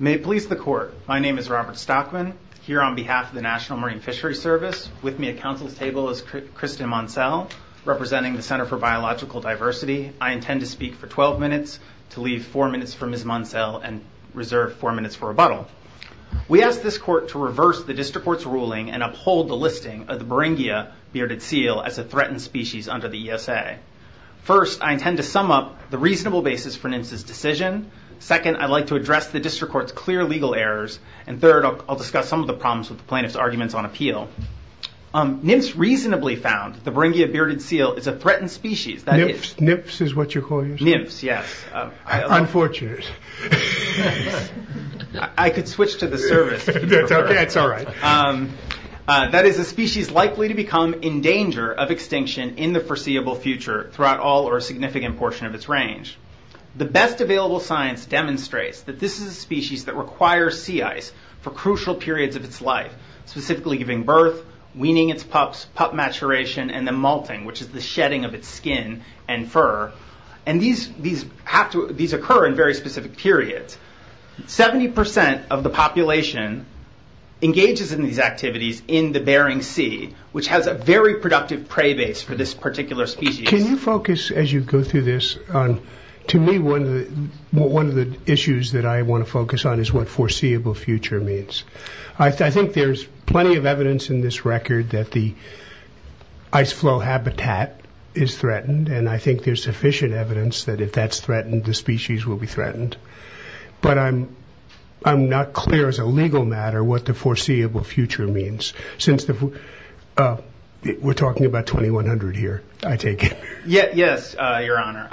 May it please the Court, my name is Robert Stockman, here on behalf of the National Marine Fishery Service. With me at Council's table is Kristen Monselle, representing the Center for Biological Diversity. I intend to speak for 12 minutes, to leave 4 minutes for Ms. Monselle, and reserve 4 minutes for rebuttal. We ask this Court to reverse the District Court's ruling, and uphold the listing of the Beringia bearded seal as a threatened species under the ESA. First, I intend to sum up the reasonable basis for NMFS's decision. Second, I'd like to address the District Court's clear legal errors. And third, I'll discuss some of the problems with the plaintiff's arguments on appeal. NMFS reasonably found the Beringia bearded seal is a threatened species. NMFS is what you call yourself? NMFS, yes. Unfortunate. I could switch to the service. That's all right. That is a species likely to become in danger of extinction in the foreseeable future, throughout all or a significant portion of its range. The best available science demonstrates that this is a species that requires sea ice for crucial periods of its life, specifically giving birth, weaning its pups, pup maturation, and then malting, which is the shedding of its skin and fur. These occur in very specific periods. 70% of the population engages in these activities in the Bering Sea, which has a very productive prey base for this particular species. Can you focus, as you go through this, to me one of the issues that I want to focus on is what foreseeable future means. I think there's plenty of evidence in this record that the ice flow habitat is threatened. I think there's sufficient evidence that if that's threatened, the species will be threatened. I'm not clear, as a legal matter, what the foreseeable future means. We're talking about 2100 here, I take it. Yes, your honor.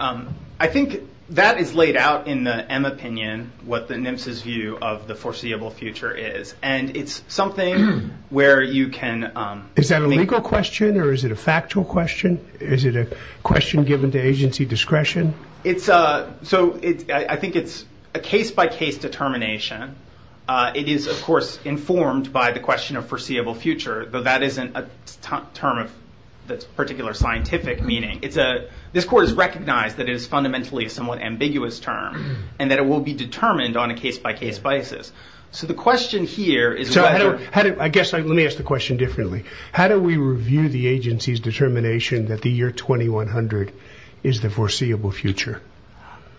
I think that is laid out in the M opinion, what the NMFS's view of the foreseeable future is. It's something where you can- Is that a legal question, or is it a factual question? Is it a question given to agency discretion? I think it's a case-by-case determination. It is, of course, informed by the question of foreseeable future, though that isn't a term of particular scientific meaning. This court has recognized that it is fundamentally a somewhat ambiguous term, and that it will be determined on a case-by-case basis. The question here is whether- I guess, let me ask the question differently. How do we review the agency's determination that the year 2100 is the foreseeable future?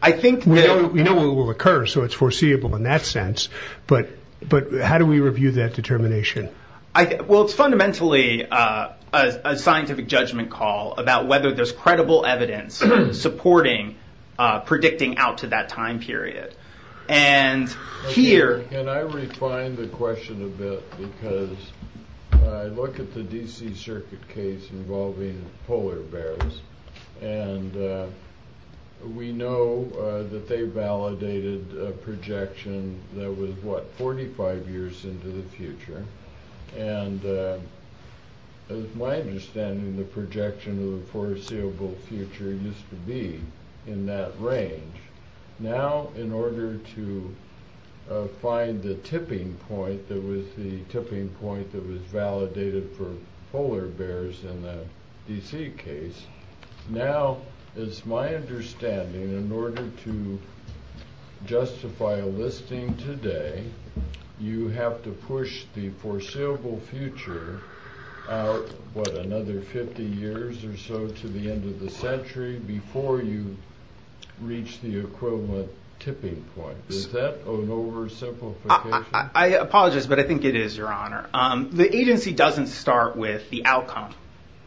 We know it will occur, so it's foreseeable in that sense, but how do we review that determination? It's fundamentally a scientific judgment call about whether there's credible evidence supporting predicting out to that time period. Can I refine the question a bit? I look at the DC Circuit case involving polar bears, and we know that they validated a projection that was, what, 45 years into the future. As my understanding, the projection of the foreseeable future used to be in that range. Now, in order to find the tipping point that was validated for polar bears in the DC case, now, as my understanding, in order to justify a listing today, you have to push the foreseeable future out, what, another 50 years or so to the end of the century before you reach the equivalent tipping point. Is that an oversimplification? I apologize, but I think it is, Your Honor. The agency doesn't start with the outcome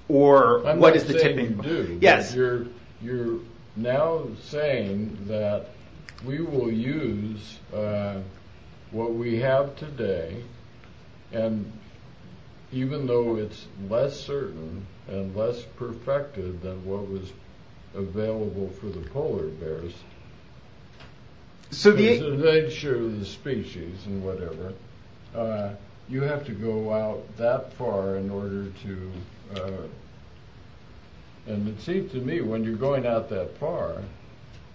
or what is the tipping point. I'm not saying you do. Yes. You're now saying that we will use what we have today, and even though it's less certain and less perfected than what was available for the polar bears, because of the nature of the species and whatever, you have to go out that far in order to, and it seems to me, when you're going out that far,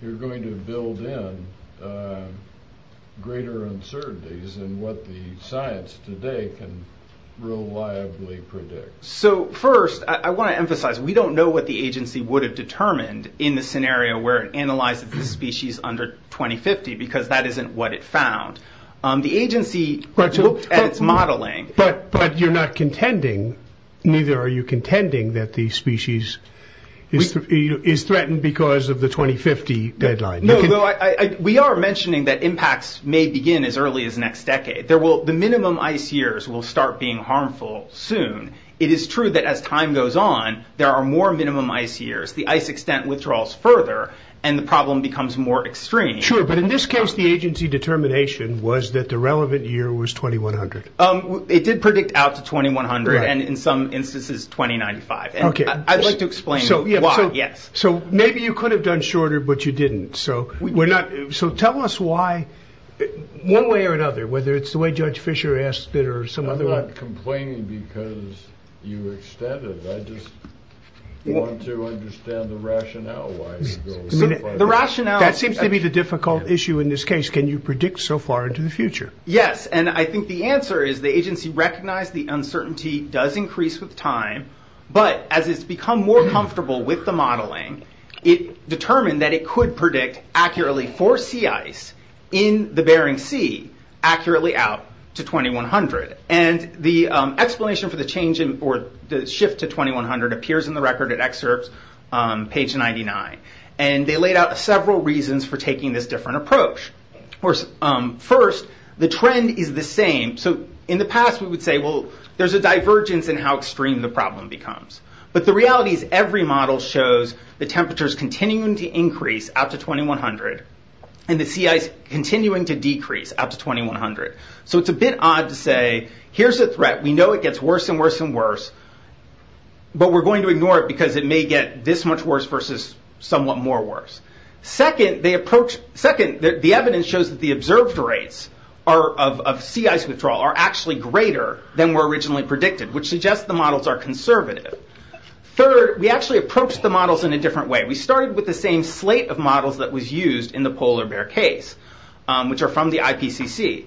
you're going to build in greater uncertainties in what the science today can reliably predict. So, first, I want to emphasize, we don't know what the agency would have determined in the scenario where it analyzes the species under 2050, because that isn't what it found. The agency looked at its modeling. But you're not contending, neither are you contending, that the species is threatened because of the 2050 deadline. We are mentioning that impacts may begin as early as next decade. The minimum ice years will start being harmful soon. It is true that as time goes on, there are more minimum ice years. The ice extent withdraws further, and the problem becomes more extreme. Sure, but in this case, the agency determination was that the relevant year was 2100. It did predict out to 2100, and in some instances, 2095. I'd like to explain why, yes. So, maybe you could have done shorter, but you didn't. So, tell us why, one way or another, whether it's the way Judge Fischer asked it or some other way. I'm not complaining because you extended. I just want to understand the rationale why it's going so far. That seems to be the difficult issue in this case. Can you predict so far into the future? Yes. I think the answer is the agency recognized the uncertainty does increase with time, but as it's become more comfortable with the modeling, it determined that it could predict accurately for sea ice in the Bering Sea, accurately out to 2100. The explanation for the shift to 2100 appears in the record at excerpts, page 99. They laid out several reasons for taking this different approach. First, the trend is the same. So, in the past, we would say, well, there's a divergence in how extreme the problem becomes, but the reality is every model shows the temperatures continuing to increase out to 2100, and the sea ice continuing to decrease out to 2100. So, it's a bit odd to say, here's a threat. We know it gets worse and worse and worse, but we're going to ignore it because it may get this much worse versus somewhat more worse. Second, the evidence shows that the observed rates of sea ice withdrawal are actually greater than were originally predicted, which suggests the models are conservative. Third, we actually approached the models in a different way. We started with the same slate of models that was used in the polar bear case, which are from the IPCC.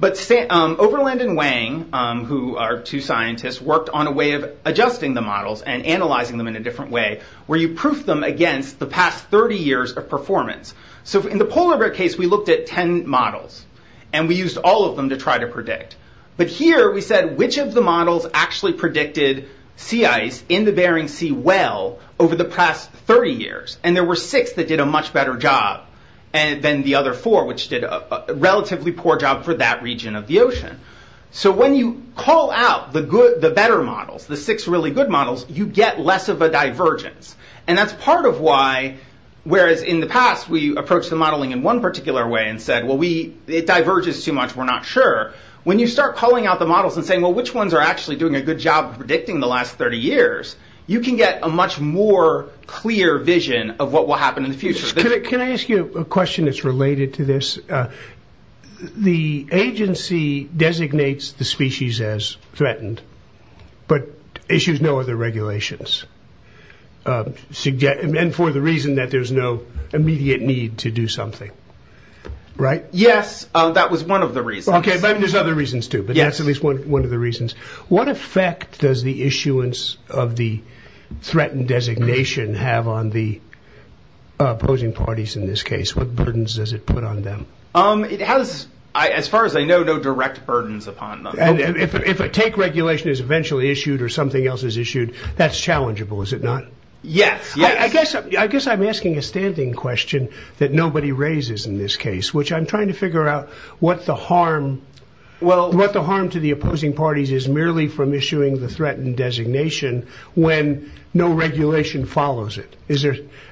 But Overland and Wang, who are two scientists, worked on a way of adjusting the models and analyzing them in a different way, where you proof them against the past 30 years of performance. So, in the polar bear case, we looked at 10 models, and we used all of them to try to predict. But here, we said, which of the models actually predicted sea ice in the Bering Sea well over the past 30 years? And there were six that did a much better job than the other four, which did a relatively poor job for that region of the ocean. So, when you call out the better models, the six really good models, you get less of a divergence. And that's part of why, whereas in the past, we approached the modeling in one particular way and said, well, it diverges too much, we're not sure. When you start calling out the models and saying, well, which ones are actually doing a good job of predicting the last 30 years, you can get a much more clear vision of what will happen in the future. Can I ask you a question that's related to this? The agency designates the species as threatened, but issues no other regulations, and for the reason that there's no immediate need to do something, right? Yes, that was one of the reasons. Okay, but there's other reasons too, but that's at least one of the reasons. What effect does the issuance of the threatened designation have on the opposing parties in this case? What burdens does it put on them? As far as I know, no direct burdens upon them. If a take regulation is eventually issued or something else is issued, that's challengeable, is it not? Yes. I guess I'm asking a standing question that nobody raises in this case, which I'm trying to figure out what the harm to the opposing parties is merely from issuing the threatened designation when no regulation follows it.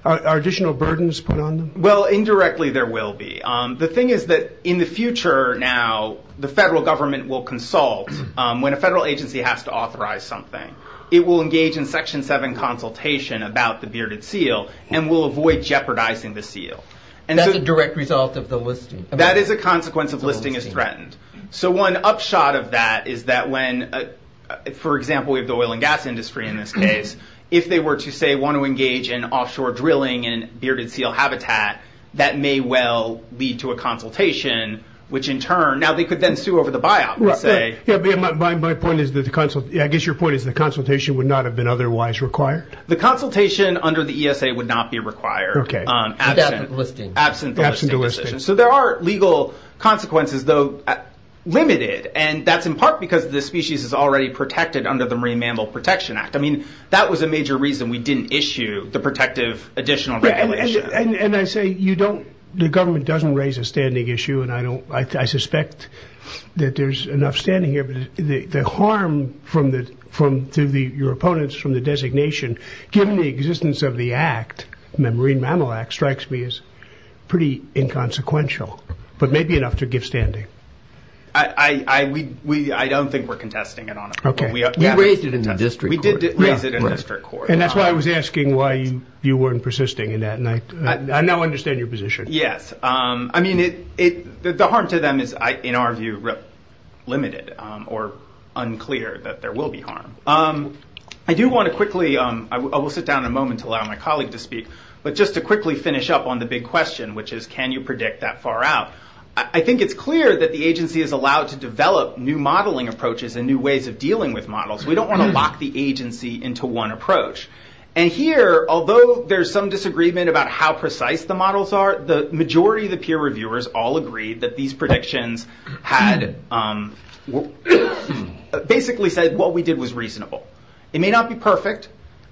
Are additional burdens put on them? Well, indirectly, there will be. The thing is that in the future now, the federal government will consult when a federal agency has to authorize something. It will engage in Section 7 consultation about the bearded seal and will avoid jeopardizing the seal. That's a direct result of the listing? That is a consequence of listing as threatened. One upshot of that is that when, for example, we have the oil and gas industry in this case, if they were to, say, want to engage in offshore drilling and bearded seal habitat, that may well lead to a consultation, which in turn... Now, they could then sue over the biop and say... My point is that the consultation... I guess your point is the consultation would not have been otherwise required? The consultation under the ESA would not be required. Okay. Absent the listing. Absent the listing. So there are legal consequences, though, limited. And that's in part because the species is already protected under the Marine Mammal Protection Act. I mean, that was a major reason we didn't issue the protective additional regulation. And I say the government doesn't raise a standing issue, and I suspect that there's enough standing here, but the harm to your opponents from the designation, given the existence of the act, the Marine Mammal Act, strikes me as pretty inconsequential, but maybe enough to give standing. I don't think we're contesting it on it. Okay. We raised it in the district court. We did raise it in the district court. And that's why I was asking why you weren't persisting in that, I now understand your position. Yes. I mean, the harm to them is, in our view, limited or unclear that there will be harm. I do want to quickly, I will sit down in a moment to allow my colleague to speak, but just to quickly finish up on the big question, which is can you predict that far out? I think it's clear that the agency is allowed to develop new modeling approaches and new ways of dealing with models. We don't want to lock the agency into one approach. And here, although there's some disagreement about how precise the models are, the majority of the peer reviewers all agreed that these predictions had basically said what we did was reasonable. It may not be perfect.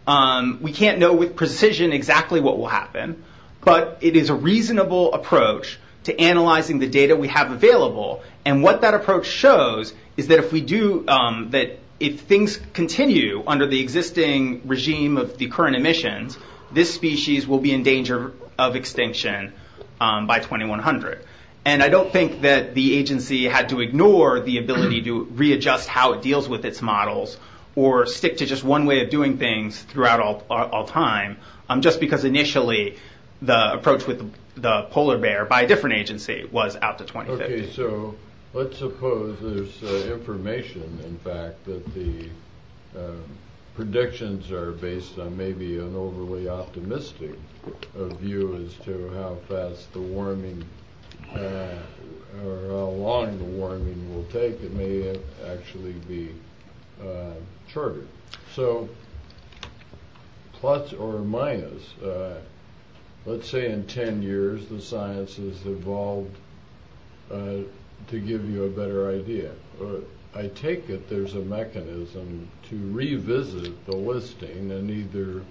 We can't know with precision exactly what will happen, but it is a reasonable approach to analyzing the data we have available. And what that approach shows is that if we do, that if things continue under the existing regime of the current emissions, this species will be in danger of extinction by 2100. And I don't think that the agency had to ignore the ability to readjust how it deals with its models or stick to just one way of doing things throughout all time, just because initially the approach with the polar bear by a different agency was out to 2050. Okay, so let's suppose there's information, in fact, that the predictions are based on maybe an overly optimistic view as to how fast the warming, or how long the warming will take. It may actually be shorter. So plus or minus, let's say in 10 years, the science has evolved to give you a better idea. I take it there's a mechanism to revisit the listing and either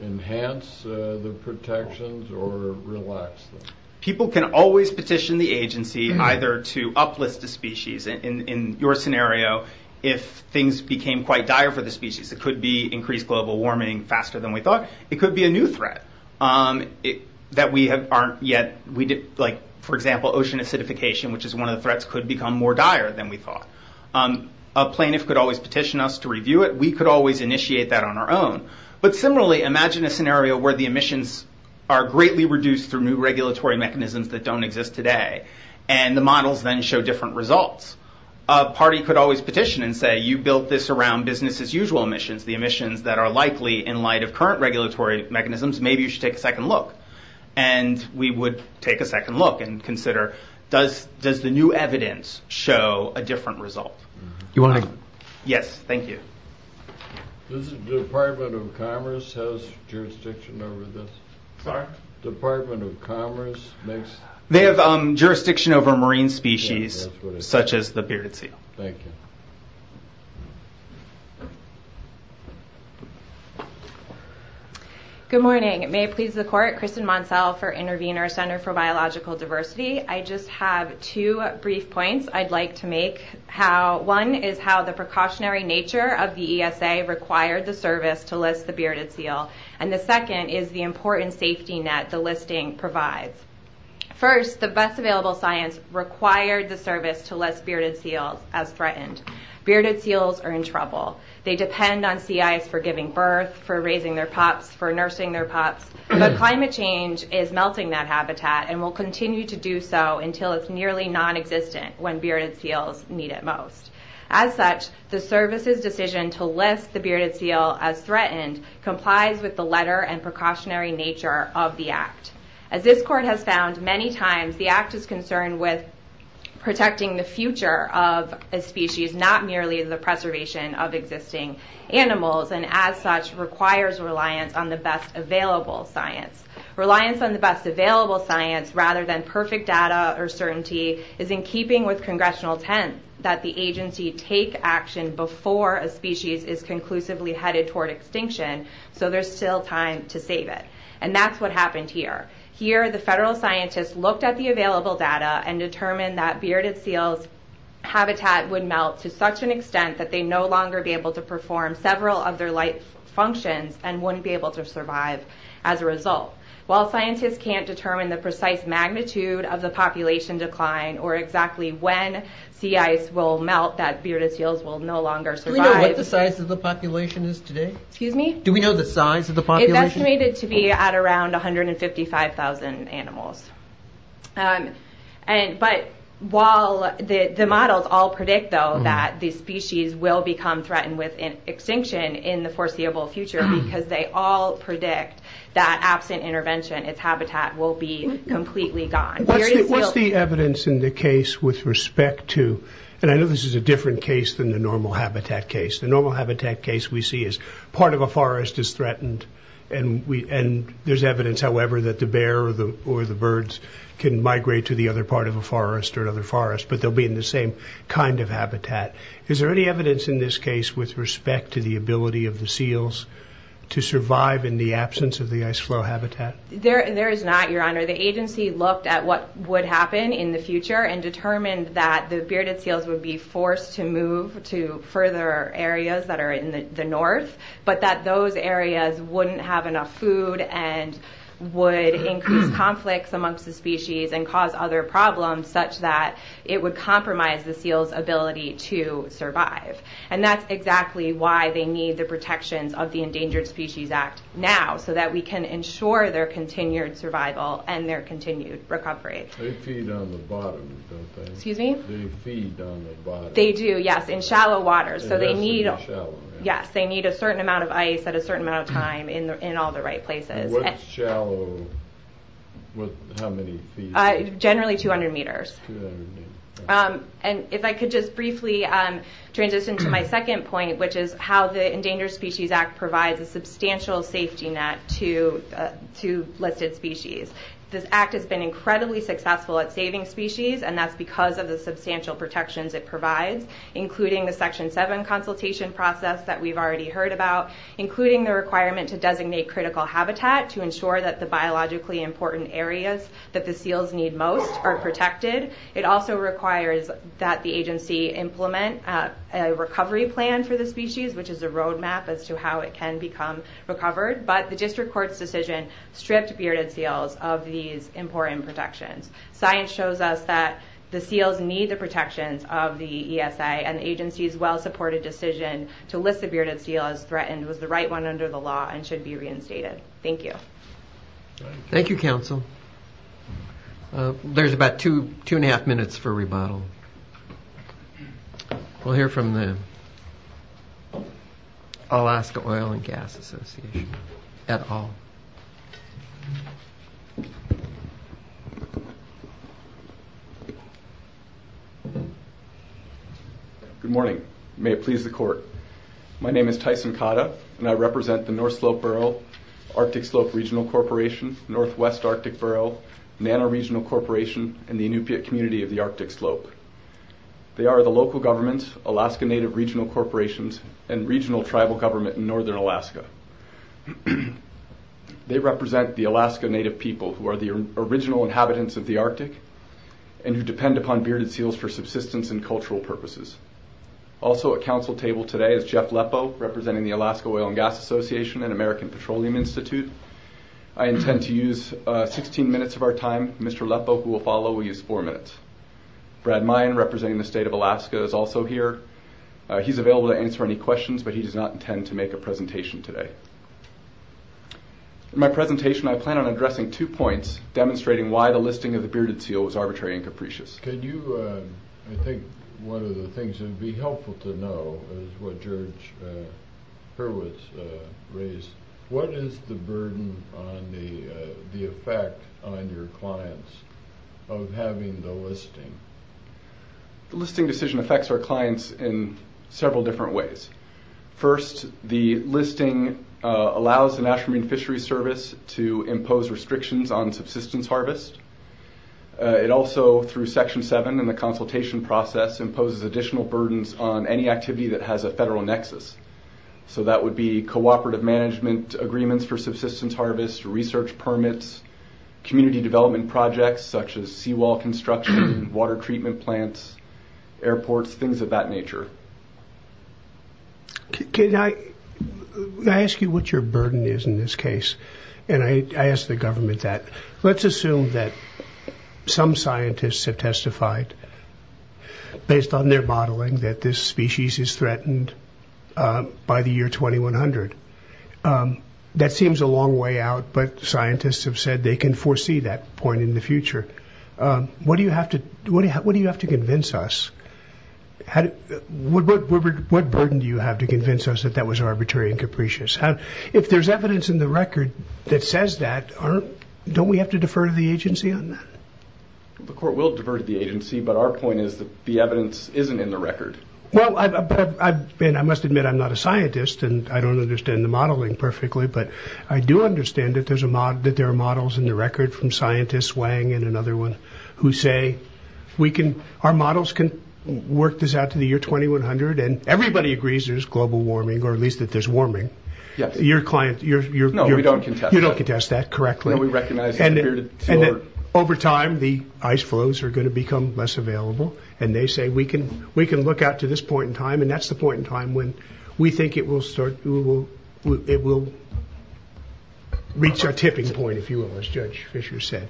enhance the protections or relax them. People can always petition the agency either to uplist a species. In your scenario, if things became quite dire for the species, it could be increased global warming faster than we thought. It could be a new threat that we aren't yet, like, for example, ocean acidification, which is one of the threats, could become more dire than we thought. A plaintiff could always petition us to review it. We could always initiate that on our own. But similarly, imagine a scenario where the emissions are greatly reduced through new regulatory mechanisms that don't exist today, and the models then show different results. A party could always petition and say, you built this around business-as-usual emissions, the emissions that are likely in light of current regulatory mechanisms. Maybe you should take a second look. And we would take a second look and consider, does the new evidence show a different result? You want to... Yes, thank you. Does the Department of Commerce have jurisdiction over this? Sorry? Department of Commerce makes... They have jurisdiction over marine species, such as the bearded sea. Thank you. Good morning. May it please the court, Kristen Montsell for Intervenor Center for Biological Diversity. I just have two brief points I'd like to make. One is how the precautionary nature of the ESA required the service to list the bearded seal. And the second is the important safety net the listing provides. First, the best available science required the service to list bearded seals as threatened. Bearded seals are in trouble. They depend on sea ice for giving birth, for raising their pups, for nursing their pups. But climate change is melting that habitat and will continue to do so until it's nearly non-existent when bearded seals need it most. As such, the service's decision to list the bearded seal as threatened complies with the letter and precautionary nature of the Act. As this court has found many times, the Act is concerned with protecting the future of a species, not merely the preservation of existing animals, and as such requires reliance on the best available science. Reliance on the best available science rather than perfect data or certainty is in keeping with Congressional intent that the agency take action before a species is conclusively headed toward extinction so there's still time to save it. And that's what happened here. Here, the federal scientists looked at the available data and determined that bearded seals' habitat would melt to such an extent that they'd no longer be able to perform several of their life functions and wouldn't be able to survive as a result. While scientists can't determine the precise magnitude of the population decline or exactly when sea ice will melt that bearded seals will no longer survive... Do we know what the size of the population is today? Excuse me? Do we know the size of the population? It's estimated to be at around 155,000 animals. But while the models all predict, though, that the species will become threatened with extinction in the foreseeable future, because they all predict that, absent intervention, its habitat will be completely gone, bearded seals... What's the evidence in the case with respect to... And I know this is a different case than the normal habitat case. The normal habitat case we see is part of a forest is threatened and there's evidence, however, that the bear or the birds can migrate to the other part of a forest or another forest, but they'll be in the same kind of habitat. Is there any evidence in this case with respect to the ability of the seals to survive in the absence of the ice floe habitat? There is not, Your Honor. The agency looked at what would happen in the future and determined that the bearded seals would be forced to move to further areas that are in the north, but that those areas wouldn't have enough food and would increase conflicts amongst the species and cause other problems such that it would compromise the seals' ability to survive. And that's exactly why they need the protections of the Endangered Species Act now, so that we can ensure their continued survival and their continued recovery. They feed on the bottom, don't they? Excuse me? They feed on the bottom. They do, yes, in shallow waters, so they need... They have to be shallow, right? Yes, they need a certain amount of ice at a certain amount of time in all the right places. What's shallow with how many feet? Generally, 200 meters. 200 meters. And if I could just briefly transition to my second point, which is how the Endangered Species Act provides a substantial safety net to listed species. This act has been incredibly successful at saving species, and that's because of the substantial protections it provides, including the Section 7 consultation process that we've already heard about, including the requirement to designate critical habitat to ensure that the biologically important areas that the seals need most are protected. It also requires that the agency implement a recovery plan for the species, which is a roadmap as to how it can become recovered. But the district court's decision stripped bearded seals of these important protections. Science shows us that the seals need the protections of the ESA, and the agency's well-supported decision to list the bearded seal as threatened was the right one under the law and should be reinstated. Thank you. Thank you, counsel. There's about two and a half minutes for rebuttal. We'll hear from the Alaska Oil and Gas Association at all. Good morning. May it please the court. My name is Tyson Cotta, and I represent the North Slope Borough Arctic Slope Regional Corporation, Northwest Arctic Borough, Nano Regional Corporation, and the Inupiaq Community of the Arctic Slope. They are the local government, Alaska Native Regional Corporations, and regional tribal government in northern Alaska. They represent the Alaska Native people, who are the original inhabitants of the Arctic and who depend upon bearded seals for subsistence and cultural purposes. Also at counsel table today is Jeff Lepo, representing the Alaska Oil and Gas Association and American Petroleum Institute. I intend to use 16 minutes of our time. Mr. Lepo, who will follow, will use four minutes. Brad Mayen, representing the state of Alaska, is also here. He's available to answer any questions, but he does not intend to make a presentation today. In my presentation, I plan on addressing two points, demonstrating why the listing of the bearded seal was arbitrary and capricious. I think one of the things that would be helpful to know is what George Hurwitz raised. What is the burden on the effect on your clients of having the listing? The listing decision affects our clients in several different ways. First, the listing allows the National Marine Fisheries Service to impose restrictions on subsistence harvest. It also, through Section 7 in the consultation process, imposes additional burdens on any activity that has a federal nexus. So that would be cooperative management agreements for subsistence harvest, research permits, community development projects such as seawall construction, water treatment plants, airports, things of that nature. Can I ask you what your burden is in this case? And I ask the government that. Let's assume that some scientists have testified, based on their modeling, that this species is threatened by the year 2100. That seems a long way out, but scientists have said they can foresee that point in the future. What do you have to convince us? What burden do you have to convince us that that was arbitrary and capricious? If there's evidence in the record that says that, don't we have to defer to the agency on that? The court will defer to the agency, but our point is that the evidence isn't in the record. I must admit I'm not a scientist, and I don't understand the modeling perfectly, but I do understand that there are models in the record from scientists, Wang and another one, who say, our models can work this out to the year 2100, and everybody agrees there's global warming, or at least that there's warming. No, we don't contest that. You don't contest that correctly. Over time, the ice flows are going to become less available, and they say we can look out to this point in time, and that's the point in time when we think it will reach our tipping point, if you will, as Judge Fisher said.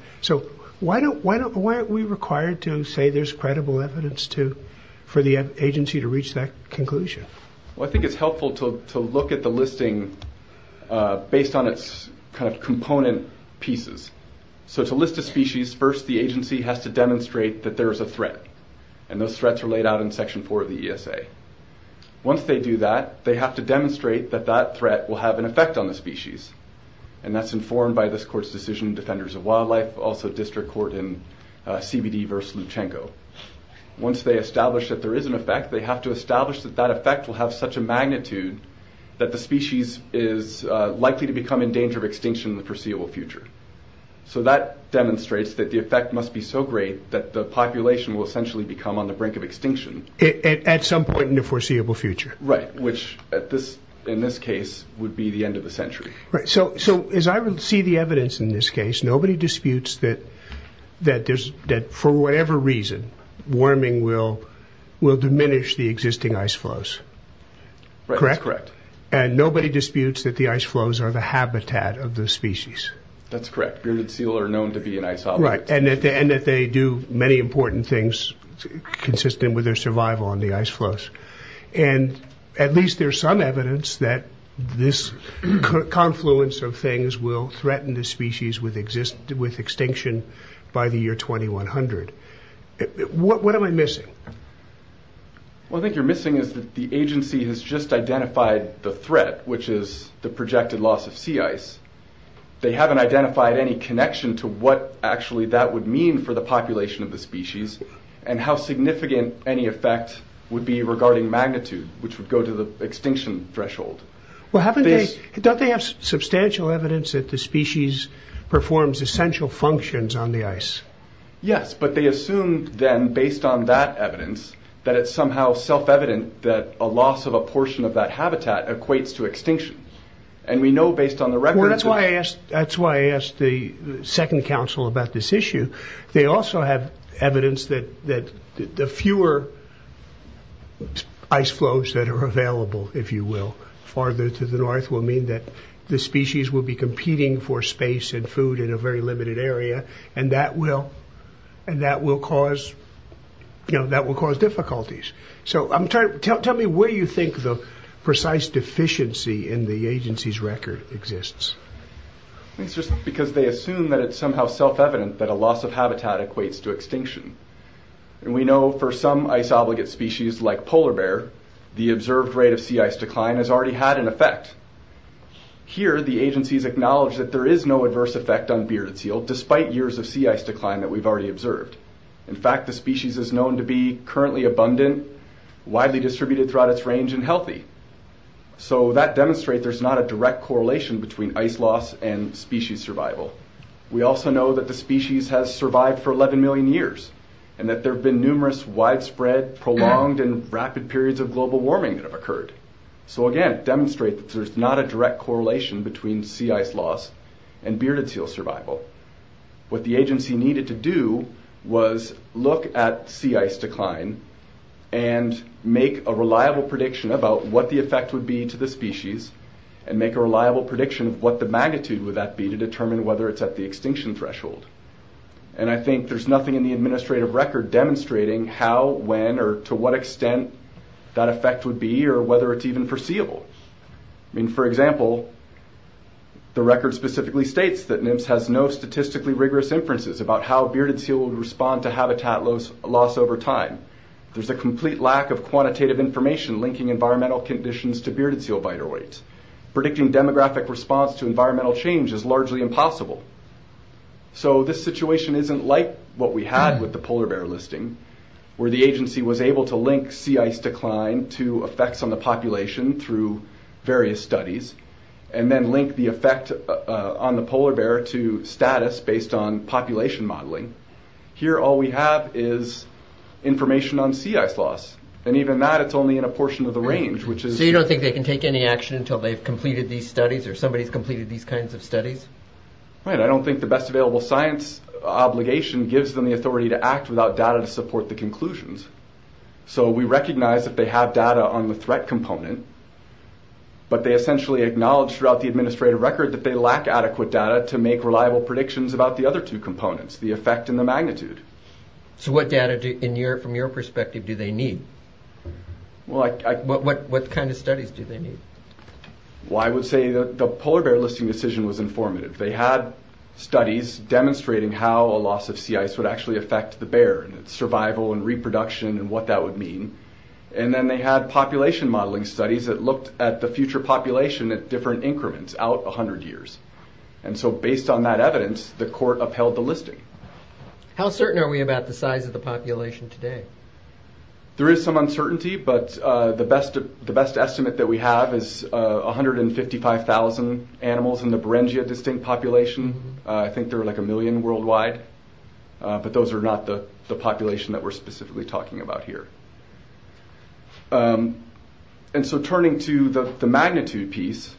Why aren't we required to say there's credible evidence for the agency to reach that conclusion? I think it's helpful to look at the listing based on its component pieces. To list a species, first the agency has to demonstrate that there is a threat, and those threats are laid out in Section 4 of the ESA. Once they do that, they have to demonstrate that that threat will have an effect on the species, and that's informed by this court's decision, Defenders of Wildlife, also District Court in CBD v. Luchenko. Once they establish that there is an effect, they have to establish that that effect will have such a magnitude that the species is likely to become in danger of extinction in the foreseeable future. So that demonstrates that the effect must be so great that the population will essentially become on the brink of extinction. At some point in the foreseeable future. Right, which in this case would be the end of the century. Right, so as I see the evidence in this case, nobody disputes that for whatever reason, warming will diminish the existing ice flows. Correct? That's correct. And nobody disputes that the ice flows are the habitat of the species. That's correct. Grim and Seal are known to be an ice hobby. Right, and that they do many important things consistent with their survival on the ice flows. And at least there's some evidence that this confluence of things will threaten the species with extinction by the year 2100. What am I missing? What I think you're missing is that the agency has just identified the threat, which is the projected loss of sea ice. They haven't identified any connection to what actually that would mean for the population of the species and how significant any effect would be regarding magnitude, which would go to the extinction threshold. Well haven't they, don't they have substantial evidence that the species performs essential functions on the ice? Yes, but they assume then based on that evidence that it's somehow self-evident that a loss of a portion of that habitat equates to extinction. And we know based on the record... That's why I asked the second council about this issue. They also have evidence that the fewer ice flows that are available, if you will, farther to the north, will mean that the species will be competing for space and food in a very limited area. And that will cause difficulties. So tell me, where do you think the precise deficiency in the agency's record exists? It's just because they assume that it's somehow self-evident that a loss of habitat equates to extinction. And we know for some ice-obligate species like polar bear, the observed rate of sea ice decline has already had an effect. Here the agency has acknowledged that there is no adverse effect on bearded seal despite years of sea ice decline that we've already observed. In fact, the species is known to be currently abundant, widely distributed throughout its range, and healthy. So that demonstrates there's not a direct correlation between ice loss and species survival. We also know that the species has survived for 11 million years and that there have been numerous widespread, prolonged, and rapid periods of global warming that have occurred. So again, it demonstrates that there's not a direct correlation between sea ice loss and bearded seal survival. What the agency needed to do was look at sea ice decline and make a reliable prediction about what the effect would be to the species and make a reliable prediction of what the magnitude would that be to determine whether it's at the extinction threshold. And I think there's nothing in the administrative record demonstrating how, when, or to what extent that effect would be or whether it's even foreseeable. I mean, for example, the record specifically states that NIMS has no statistically rigorous inferences about how bearded seal would respond to habitat loss over time. There's a complete lack of quantitative information linking environmental conditions to bearded seal biteroids. Predicting demographic response to environmental change is largely impossible. So this situation isn't like what we had with the polar bear listing, where the agency was able to link sea ice decline to effects on the population through various studies and then link the effect on the polar bear to status based on population modeling. Here all we have is information on sea ice loss. And even that, it's only in a portion of the range, which is... So you don't think they can take any action until they've completed these studies or somebody's completed these kinds of studies? Right, I don't think the best available science obligation gives them the authority to act without data to support the conclusions. So we recognize that they have data on the threat component, but they essentially acknowledge throughout the administrative record that they lack adequate data to make reliable predictions about the other two components, the effect and the magnitude. So what data from your perspective do they need? What kind of studies do they need? Well, I would say the polar bear listing decision was informative. And it's survival and reproduction and what that would mean. And then they had population modeling studies that looked at the future population at different increments out 100 years. And so based on that evidence, the court upheld the listing. How certain are we about the size of the population today? There is some uncertainty, but the best estimate that we have is 155,000 animals in the Beringia distinct population. I think there are like a million worldwide. But those are not the population that we're specifically talking about here. And so turning to the magnitude piece,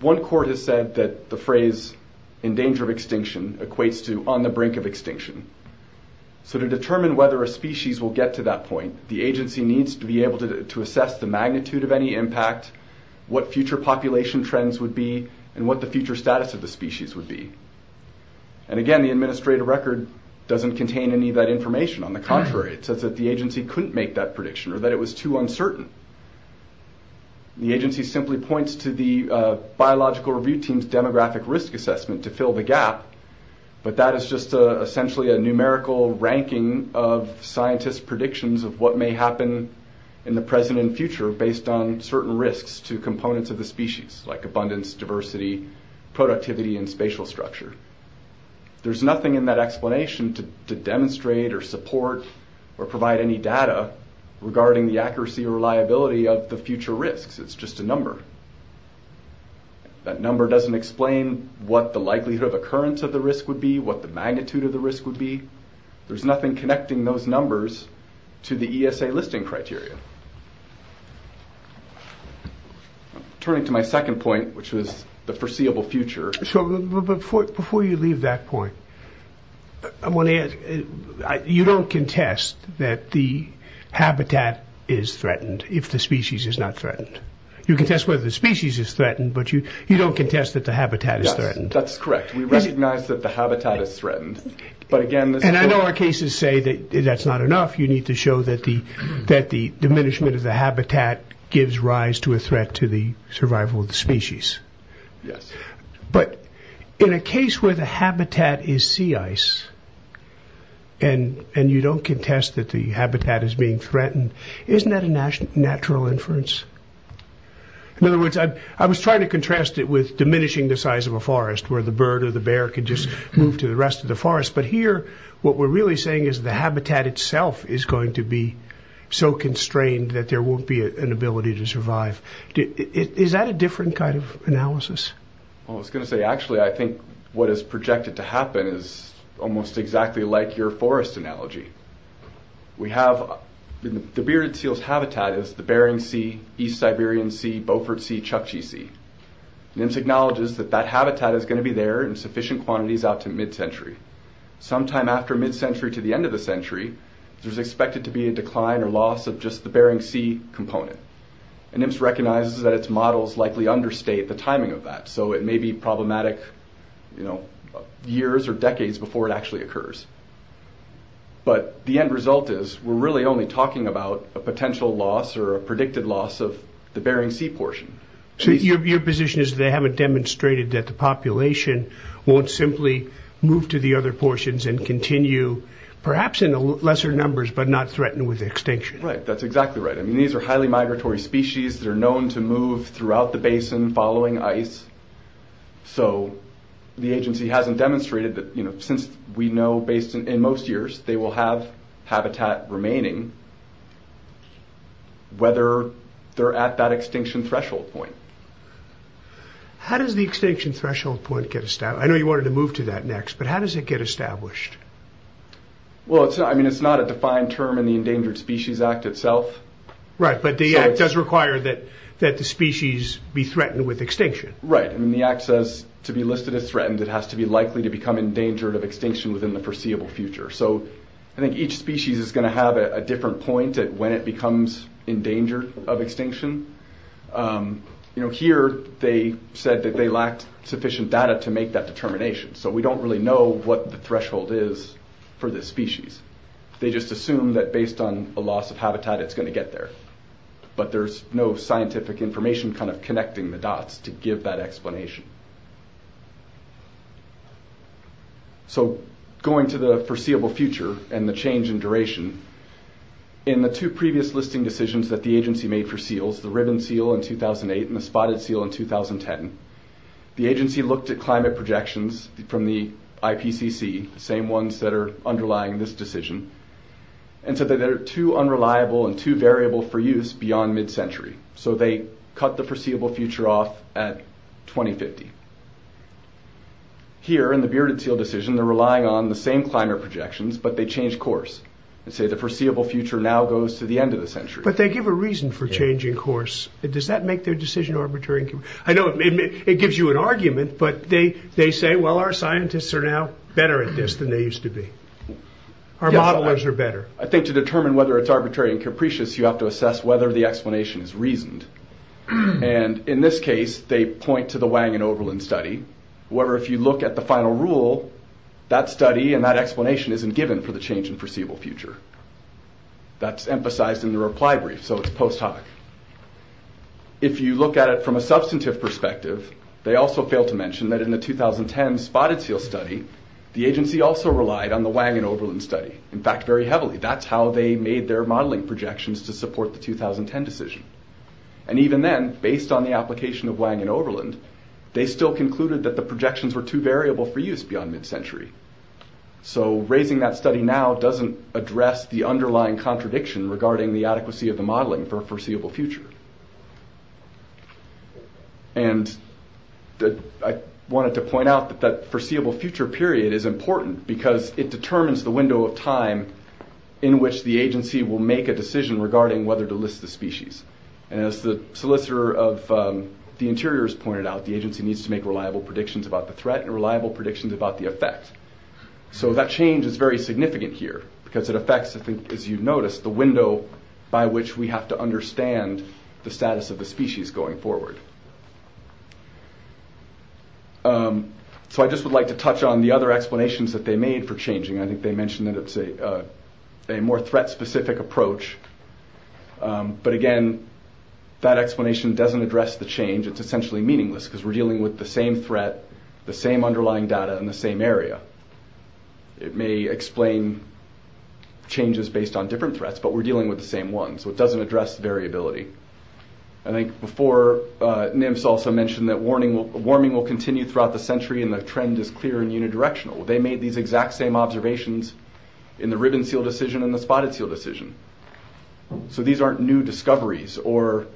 one court has said that the phrase, in danger of extinction, equates to on the brink of extinction. So to determine whether a species will get to that point, the agency needs to be able to assess the magnitude of any impact, what future population trends would be, and what the future status of the species would be. And again, the administrative record doesn't contain any of that information. On the contrary, it says that the agency couldn't make that prediction or that it was too uncertain. The agency simply points to the biological review team's demographic risk assessment to fill the gap. But that is just essentially a numerical ranking of scientists' predictions of what may happen in the present and future based on certain risks to components of the species, like abundance, diversity, productivity, and spatial structure. There's nothing in that explanation to demonstrate or support or provide any data regarding the accuracy or reliability of the future risks. It's just a number. That number doesn't explain what the likelihood of occurrence of the risk would be, what the magnitude of the risk would be. There's nothing connecting those numbers to the ESA listing criteria. Turning to my second point, which was the foreseeable future. Before you leave that point, I want to ask, you don't contest that the habitat is threatened if the species is not threatened. You contest whether the species is threatened, but you don't contest that the habitat is threatened. Yes, that's correct. We recognize that the habitat is threatened. And I know our cases say that that's not enough. You need to show that the diminishment of the habitat gives rise to a threat to the survival of the species. Yes. But in a case where the habitat is sea ice and you don't contest that the habitat is being threatened, isn't that a natural inference? In other words, I was trying to contrast it with diminishing the size of a forest but here what we're really saying is the habitat itself is going to be so constrained that there won't be an ability to survive. Is that a different kind of analysis? Well, I was going to say, actually, I think what is projected to happen is almost exactly like your forest analogy. The Bearded Seal's habitat is the Bering Sea, East Siberian Sea, Beaufort Sea, Chukchi Sea. NIMS acknowledges that that habitat is going to be there in sufficient quantities out to mid-century. Sometime after mid-century to the end of the century, there's expected to be a decline or loss of just the Bering Sea component. And NIMS recognizes that its models likely understate the timing of that. So it may be problematic years or decades before it actually occurs. But the end result is we're really only talking about a potential loss or a predicted loss of the Bering Sea portion. So your position is that they haven't demonstrated that the population won't simply move to the other portions and continue, perhaps in lesser numbers, but not threaten with extinction? Right. That's exactly right. I mean, these are highly migratory species that are known to move throughout the basin following ice. So the agency hasn't demonstrated that, you know, since we know based in most years they will have habitat remaining, whether they're at that extinction threshold point. How does the extinction threshold point get established? I know you wanted to move to that next, but how does it get established? Well, I mean, it's not a defined term in the Endangered Species Act itself. Right. But the act does require that the species be threatened with extinction. Right. And the act says to be listed as threatened, it has to be likely to become endangered of extinction within the foreseeable future. So I think each species is going to have a different point at when it becomes endangered of extinction. You know, here they said that they lacked sufficient data to make that determination. So we don't really know what the threshold is for this species. They just assume that based on a loss of habitat, it's going to get there. But there's no scientific information kind of connecting the dots to give that explanation. So going to the foreseeable future and the change in duration, in the two previous listing decisions that the agency made for seals, the ribbon seal in 2008 and the spotted seal in 2010, the agency looked at climate projections from the IPCC, the same ones that are underlying this decision, and said that they're too unreliable and too variable for use beyond mid-century. So they cut the foreseeable future off at 2050. Here in the bearded seal decision, they're relying on the same climate projections, but they change course and say the foreseeable future now goes to the end of the century. But they give a reason for changing course. Does that make their decision arbitrary? I know it gives you an argument, but they say, well, our scientists are now better at this than they used to be. Our modelers are better. I think to determine whether it's arbitrary and capricious, you have to assess whether the explanation is reasoned. And in this case, they point to the Wang and Oberlin study. However, if you look at the final rule, that study and that explanation isn't given for the change in foreseeable future. That's emphasized in the reply brief, so it's post hoc. If you look at it from a substantive perspective, they also fail to mention that in the 2010 spotted seal study, the agency also relied on the Wang and Oberlin study, in fact, very heavily. That's how they made their modeling projections to support the 2010 decision. And even then, based on the application of Wang and Oberlin, they still concluded that the projections were too variable for use beyond mid-century. So raising that study now doesn't address the underlying contradiction regarding the adequacy of the modeling for a foreseeable future. And I wanted to point out that that foreseeable future period is important because it determines the window of time in which the agency will make a decision regarding whether to list the species. And as the solicitor of the interiors pointed out, the agency needs to make reliable predictions about the threat and reliable predictions about the effect. So that change is very significant here because it affects, as you've noticed, the window by which we have to understand the status of the species going forward. So I just would like to touch on the other explanations that they made for changing. I think they mentioned that it's a more threat-specific approach. But again, that explanation doesn't address the change. It's essentially meaningless because we're dealing with the same threat, the same underlying data in the same area. It may explain changes based on different threats, but we're dealing with the same ones, so it doesn't address variability. I think before, NIMS also mentioned that warming will continue throughout the century and the trend is clear and unidirectional. They made these exact same observations in the ribbon-seal decision and the spotted-seal decision. So these aren't new discoveries or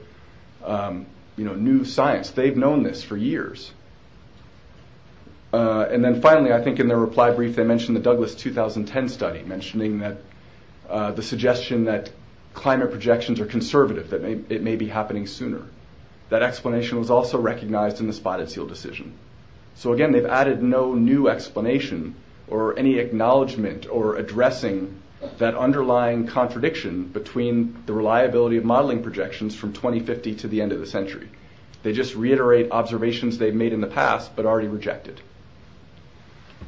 new science. They've known this for years. And then finally, I think in their reply brief, they mentioned the Douglas 2010 study, mentioning the suggestion that climate projections are conservative, that it may be happening sooner. That explanation was also recognized in the spotted-seal decision. So again, they've added no new explanation or any acknowledgement or addressing that underlying contradiction between the reliability of modeling projections from 2050 to the end of the century. They just reiterate observations they've made in the past but already rejected.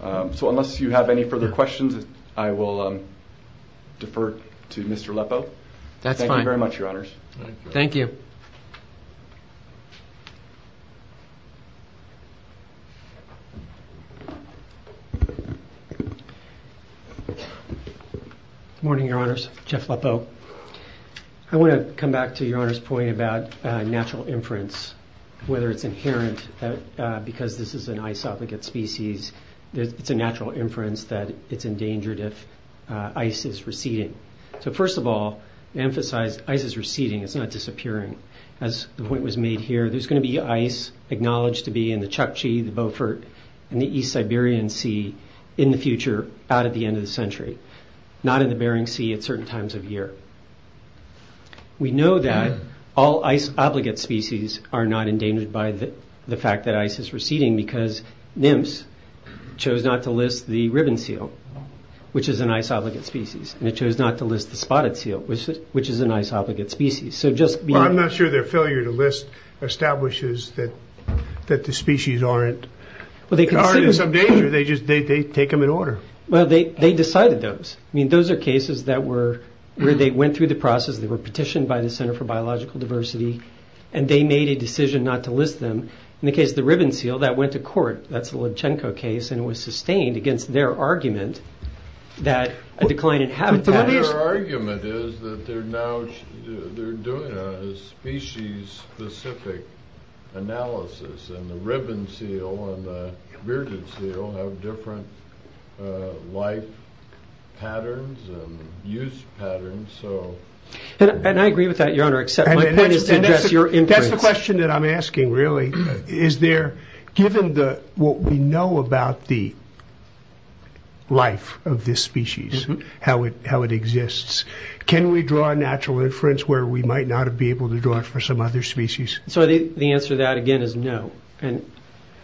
So unless you have any further questions, I will defer to Mr. Lepow. That's fine. Thank you very much, Your Honors. Thank you. Good morning, Your Honors. Jeff Lepow. I want to come back to Your Honor's point about natural inference, whether it's inherent because this is an ice-obligate species. It's a natural inference that it's endangered if ice is receding. So first of all, emphasize ice is receding. It's not disappearing. As the point was made here, there's going to be ice acknowledged to be in the Chukchi, the Beaufort, and the East Siberian Sea in the future out at the end of the century, not in the Bering Sea at certain times of year. We know that all ice-obligate species are not endangered by the fact that ice is receding because NIMS chose not to list the ribbon seal, which is an ice-obligate species, and it chose not to list the spotted seal, which is an ice-obligate species. I'm not sure their failure to list establishes that the species aren't in some danger. They just take them in order. Well, they decided those. I mean, those are cases where they went through the process, they were petitioned by the Center for Biological Diversity, and they made a decision not to list them. In the case of the ribbon seal, that went to court. That's the Lubchenco case, and it was sustained against their argument that a decline in habitat is— But their argument is that they're doing a species-specific analysis, and the ribbon seal and the virgin seal have different life patterns and use patterns. And I agree with that, Your Honor, except my point is to address your inference. That's the question that I'm asking, really. Is there—given what we know about the life of this species, how it exists, can we draw a natural inference where we might not be able to draw it for some other species? So the answer to that, again, is no. And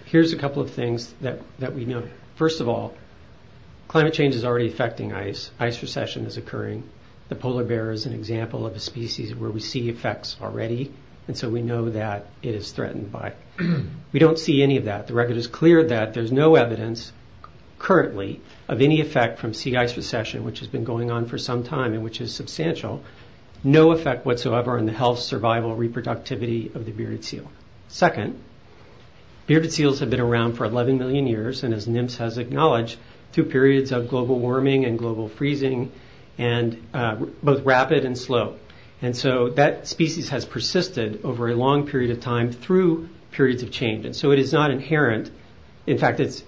here's a couple of things that we know. First of all, climate change is already affecting ice. Ice recession is occurring. The polar bear is an example of a species where we see effects already, and so we know that it is threatened by it. We don't see any of that. The record is clear that there's no evidence currently of any effect from sea ice recession, which has been going on for some time and which is substantial. No effect whatsoever on the health, survival, reproductivity of the bearded seal. Second, bearded seals have been around for 11 million years, and as NIMS has acknowledged, through periods of global warming and global freezing, and both rapid and slow. And so that species has persisted over a long period of time through periods of change. And so it is not inherent. In fact, it's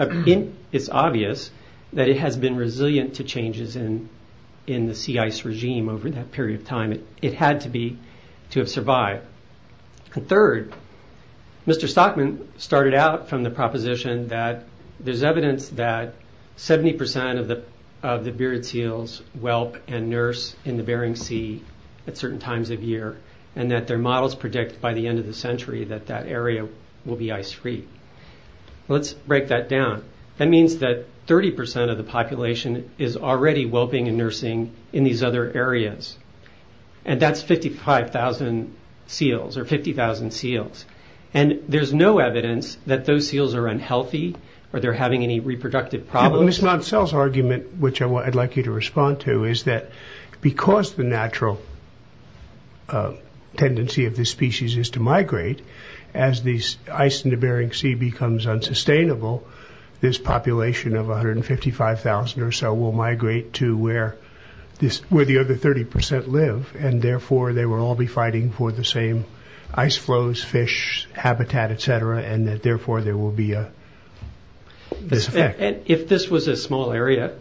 obvious that it has been resilient to changes in the sea ice regime over that period of time. It had to have survived. Third, Mr. Stockman started out from the proposition that there's evidence that 70% of the bearded seals whelp and nurse in the Bering Sea at certain times of year, and that their models predict by the end of the century that that area will be ice-free. Let's break that down. That means that 30% of the population is already whelping and nursing in these other areas, and that's 55,000 seals or 50,000 seals. And there's no evidence that those seals are unhealthy or they're having any reproductive problems. Ms. Montsell's argument, which I'd like you to respond to, is that because the natural tendency of this species is to migrate, as the ice in the Bering Sea becomes unsustainable, this population of 155,000 or so will migrate to where the other 30% live, and therefore they will all be fighting for the same ice flows, fish, habitat, et cetera, and that therefore there will be a disaffect. And if this was a small area,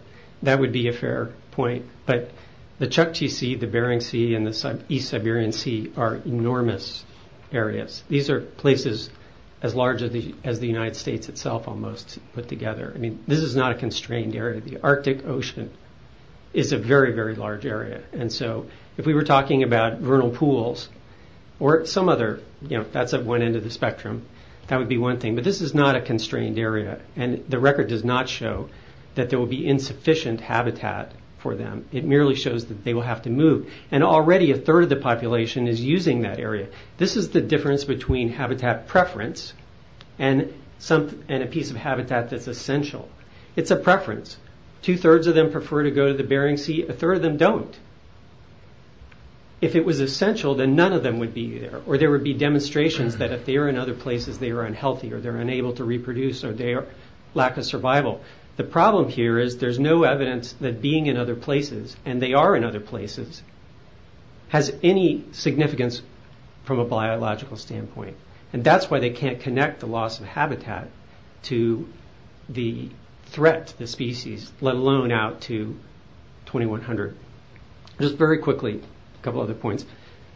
that would be a fair point, but the Chukchi Sea, the Bering Sea, and the East Siberian Sea are enormous areas. These are places as large as the United States itself almost put together. I mean, this is not a constrained area. The Arctic Ocean is a very, very large area, and so if we were talking about vernal pools or some other, you know, that's at one end of the spectrum, that would be one thing, but this is not a constrained area, and the record does not show that there will be insufficient habitat for them. It merely shows that they will have to move, and already a third of the population is using that area. This is the difference between habitat preference and a piece of habitat that's essential. It's a preference. Two-thirds of them prefer to go to the Bering Sea. A third of them don't. If it was essential, then none of them would be there, or there would be demonstrations that if they are in other places, they are unhealthy or they're unable to reproduce or they lack a survival. The problem here is there's no evidence that being in other places, and they are in other places, has any significance from a biological standpoint, and that's why they can't connect the loss of habitat to the threat to the species, let alone out to 2100. Just very quickly, a couple other points.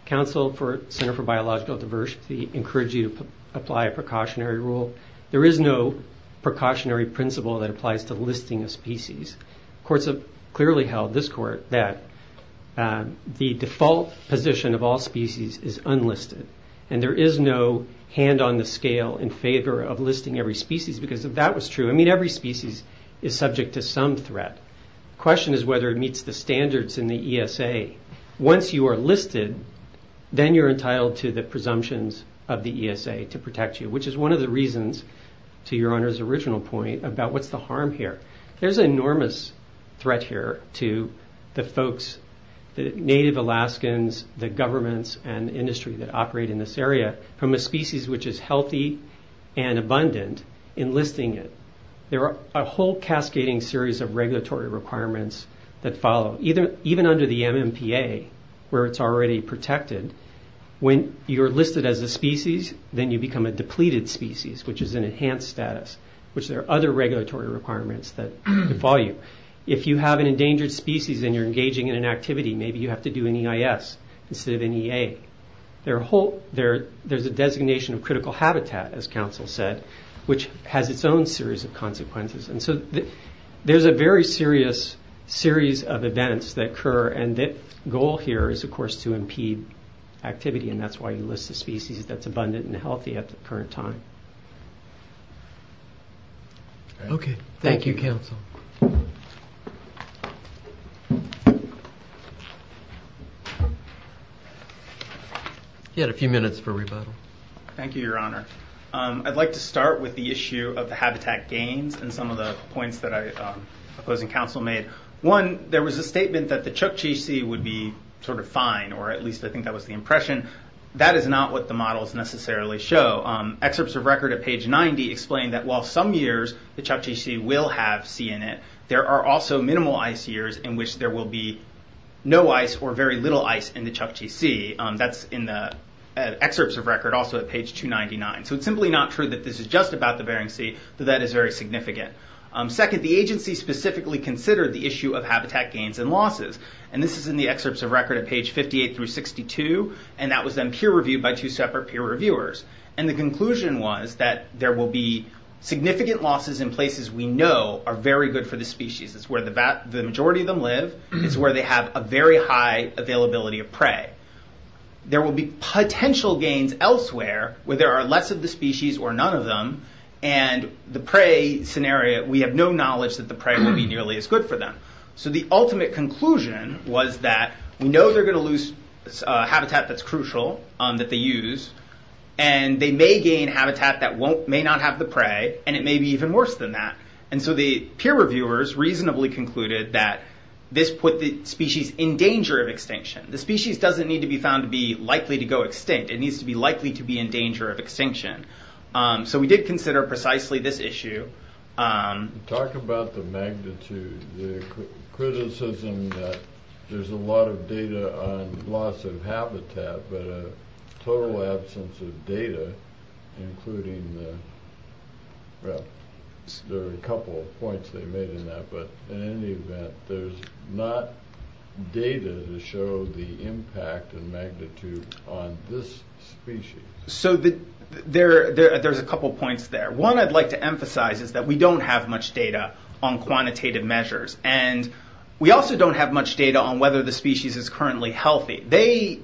Council for Center for Biological Diversity encourage you to apply a precautionary rule. There is no precautionary principle that applies to listing a species. Courts have clearly held, this court, that the default position of all species is unlisted, and there is no hand on the scale in favor of listing every species because if that was true, I mean, every species is subject to some threat. The question is whether it meets the standards in the ESA. Once you are listed, then you're entitled to the presumptions of the ESA to protect you, which is one of the reasons, to Your Honor's original point, about what's the harm here. There's an enormous threat here to the folks, the native Alaskans, the governments and industry that operate in this area, from a species which is healthy and abundant, enlisting it. There are a whole cascading series of regulatory requirements that follow. Even under the MMPA, where it's already protected, when you're listed as a species, then you become a depleted species, which is an enhanced status, which there are other regulatory requirements that follow. If you have an endangered species and you're engaging in an activity, maybe you have to do an EIS instead of an EA. There's a designation of critical habitat, as counsel said, which has its own series of consequences. There's a very serious series of events that occur, and the goal here is, of course, to impede activity, and that's why you list a species that's abundant and healthy at the current time. Okay. Thank you, counsel. You had a few minutes for rebuttal. Thank you, Your Honor. I'd like to start with the issue of the habitat gains and some of the points that I oppose and counsel made. One, there was a statement that the Chukchi Sea would be fine, or at least I think that was the impression. That is not what the models necessarily show. Excerpts of record at page 90 explain that while some years the Chukchi Sea will have sea in it, there are also minimal ice years in which there will be no ice or very little ice in the Chukchi Sea. That's in the excerpts of record, also at page 299. It's simply not true that this is just about the Bering Sea, though that is very significant. Second, the agency specifically considered the issue of habitat gains and losses. This is in the excerpts of record at page 58 through 62, and that was then peer reviewed by two separate peer reviewers. The conclusion was that there will be significant losses in places we know are very good for the species. It's where the majority of them live. It's where they have a very high availability of prey. There will be potential gains elsewhere where there are less of the species or none of them, and the prey scenario, we have no knowledge that the prey will be nearly as good for them. The ultimate conclusion was that we know they're going to lose habitat that's crucial, that they use, and they may gain habitat that may not have the prey, and it may be even worse than that. The peer reviewers reasonably concluded that this put the species in danger of extinction. The species doesn't need to be found to be likely to go extinct. It needs to be likely to be in danger of extinction. We did consider precisely this issue. Talk about the magnitude. The criticism that there's a lot of data on loss of habitat, but a total absence of data, including the, well, there are a couple of points they made in that, but in any event, there's not data to show the impact and magnitude on this species. There's a couple of points there. One I'd like to emphasize is that we don't have much data on quantitative measures, and we also don't have much data on whether the species is currently healthy. They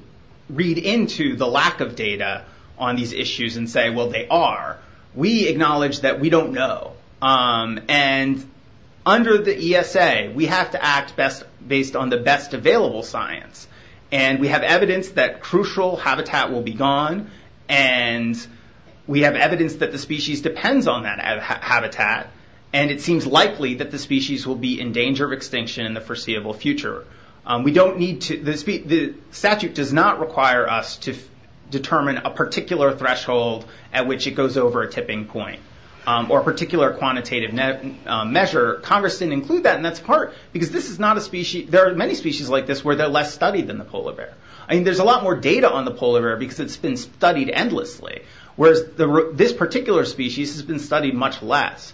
read into the lack of data on these issues and say, well, they are. We acknowledge that we don't know, and under the ESA, we have to act based on the best available science, and we have evidence that crucial habitat will be gone, and we have evidence that the species depends on that habitat, and it seems likely that the species will be in danger of extinction in the foreseeable future. The statute does not require us to determine a particular threshold at which it goes over a tipping point or a particular quantitative measure. Congress didn't include that, and that's part because this is not a species. There are many species like this where they're less studied than the polar bear. There's a lot more data on the polar bear because it's been studied endlessly, whereas this particular species has been studied much less.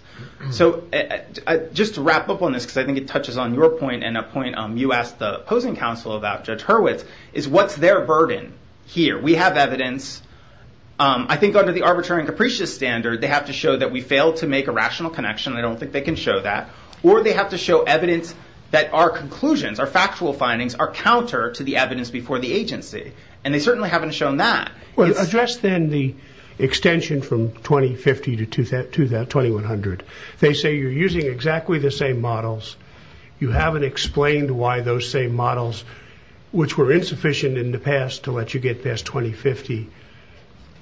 Just to wrap up on this, because I think it touches on your point, and a point you asked the opposing counsel about, Judge Hurwitz, is what's their burden here? We have evidence. I think under the arbitrary and capricious standard, they have to show that we failed to make a rational connection. I don't think they can show that, or they have to show evidence that our conclusions, our factual findings, are counter to the evidence before the agency, and they certainly haven't shown that. Well, address then the extension from 2050 to 2100. They say you're using exactly the same models. You haven't explained why those same models, which were insufficient in the past to let you get past 2050,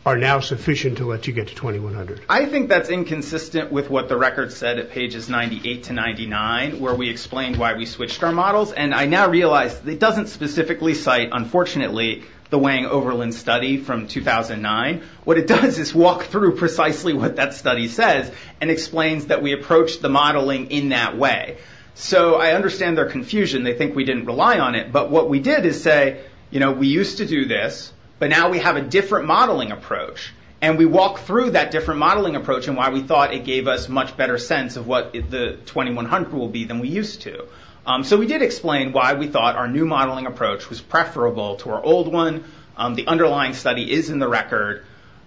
are now sufficient to let you get to 2100. I think that's inconsistent with what the record said at pages 98 to 99, where we explained why we switched our models, and I now realize it doesn't specifically cite, unfortunately, the Wang-Overland study from 2009. What it does is walk through precisely what that study says, and explains that we approached the modeling in that way. I understand their confusion. They think we didn't rely on it, but what we did is say, we used to do this, but now we have a different modeling approach, and we walk through that different modeling approach, and why we thought it gave us much better sense of what the 2100 will be than we used to. We did explain why we thought our new modeling approach was preferable to our old one. The underlying study is in the record,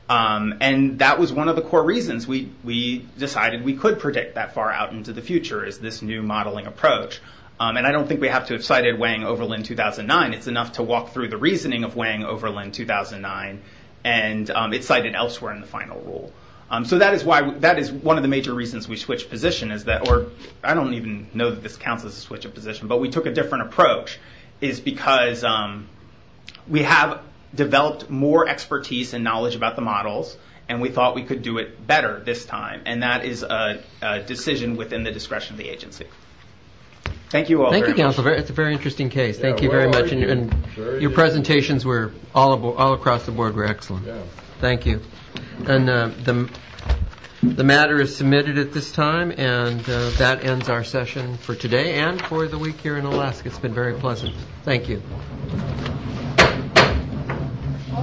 and that was one of the core reasons we decided we could predict that far out into the future, is this new modeling approach. I don't think we have to have cited Wang-Overland 2009. It's enough to walk through the reasoning of Wang-Overland 2009, and it's cited elsewhere in the final rule. That is one of the major reasons we switched position, or I don't even know that this counts as a switch of position, but we took a different approach, is because we have developed more expertise and knowledge about the models, and we thought we could do it better this time, and that is a decision within the discretion of the agency. Thank you all very much. Thank you, Counselor. It's a very interesting case. Thank you very much, and your presentations all across the board were excellent. Thank you. And the matter is submitted at this time, and that ends our session for today and for the week here in Alaska. It's been very pleasant. Thank you.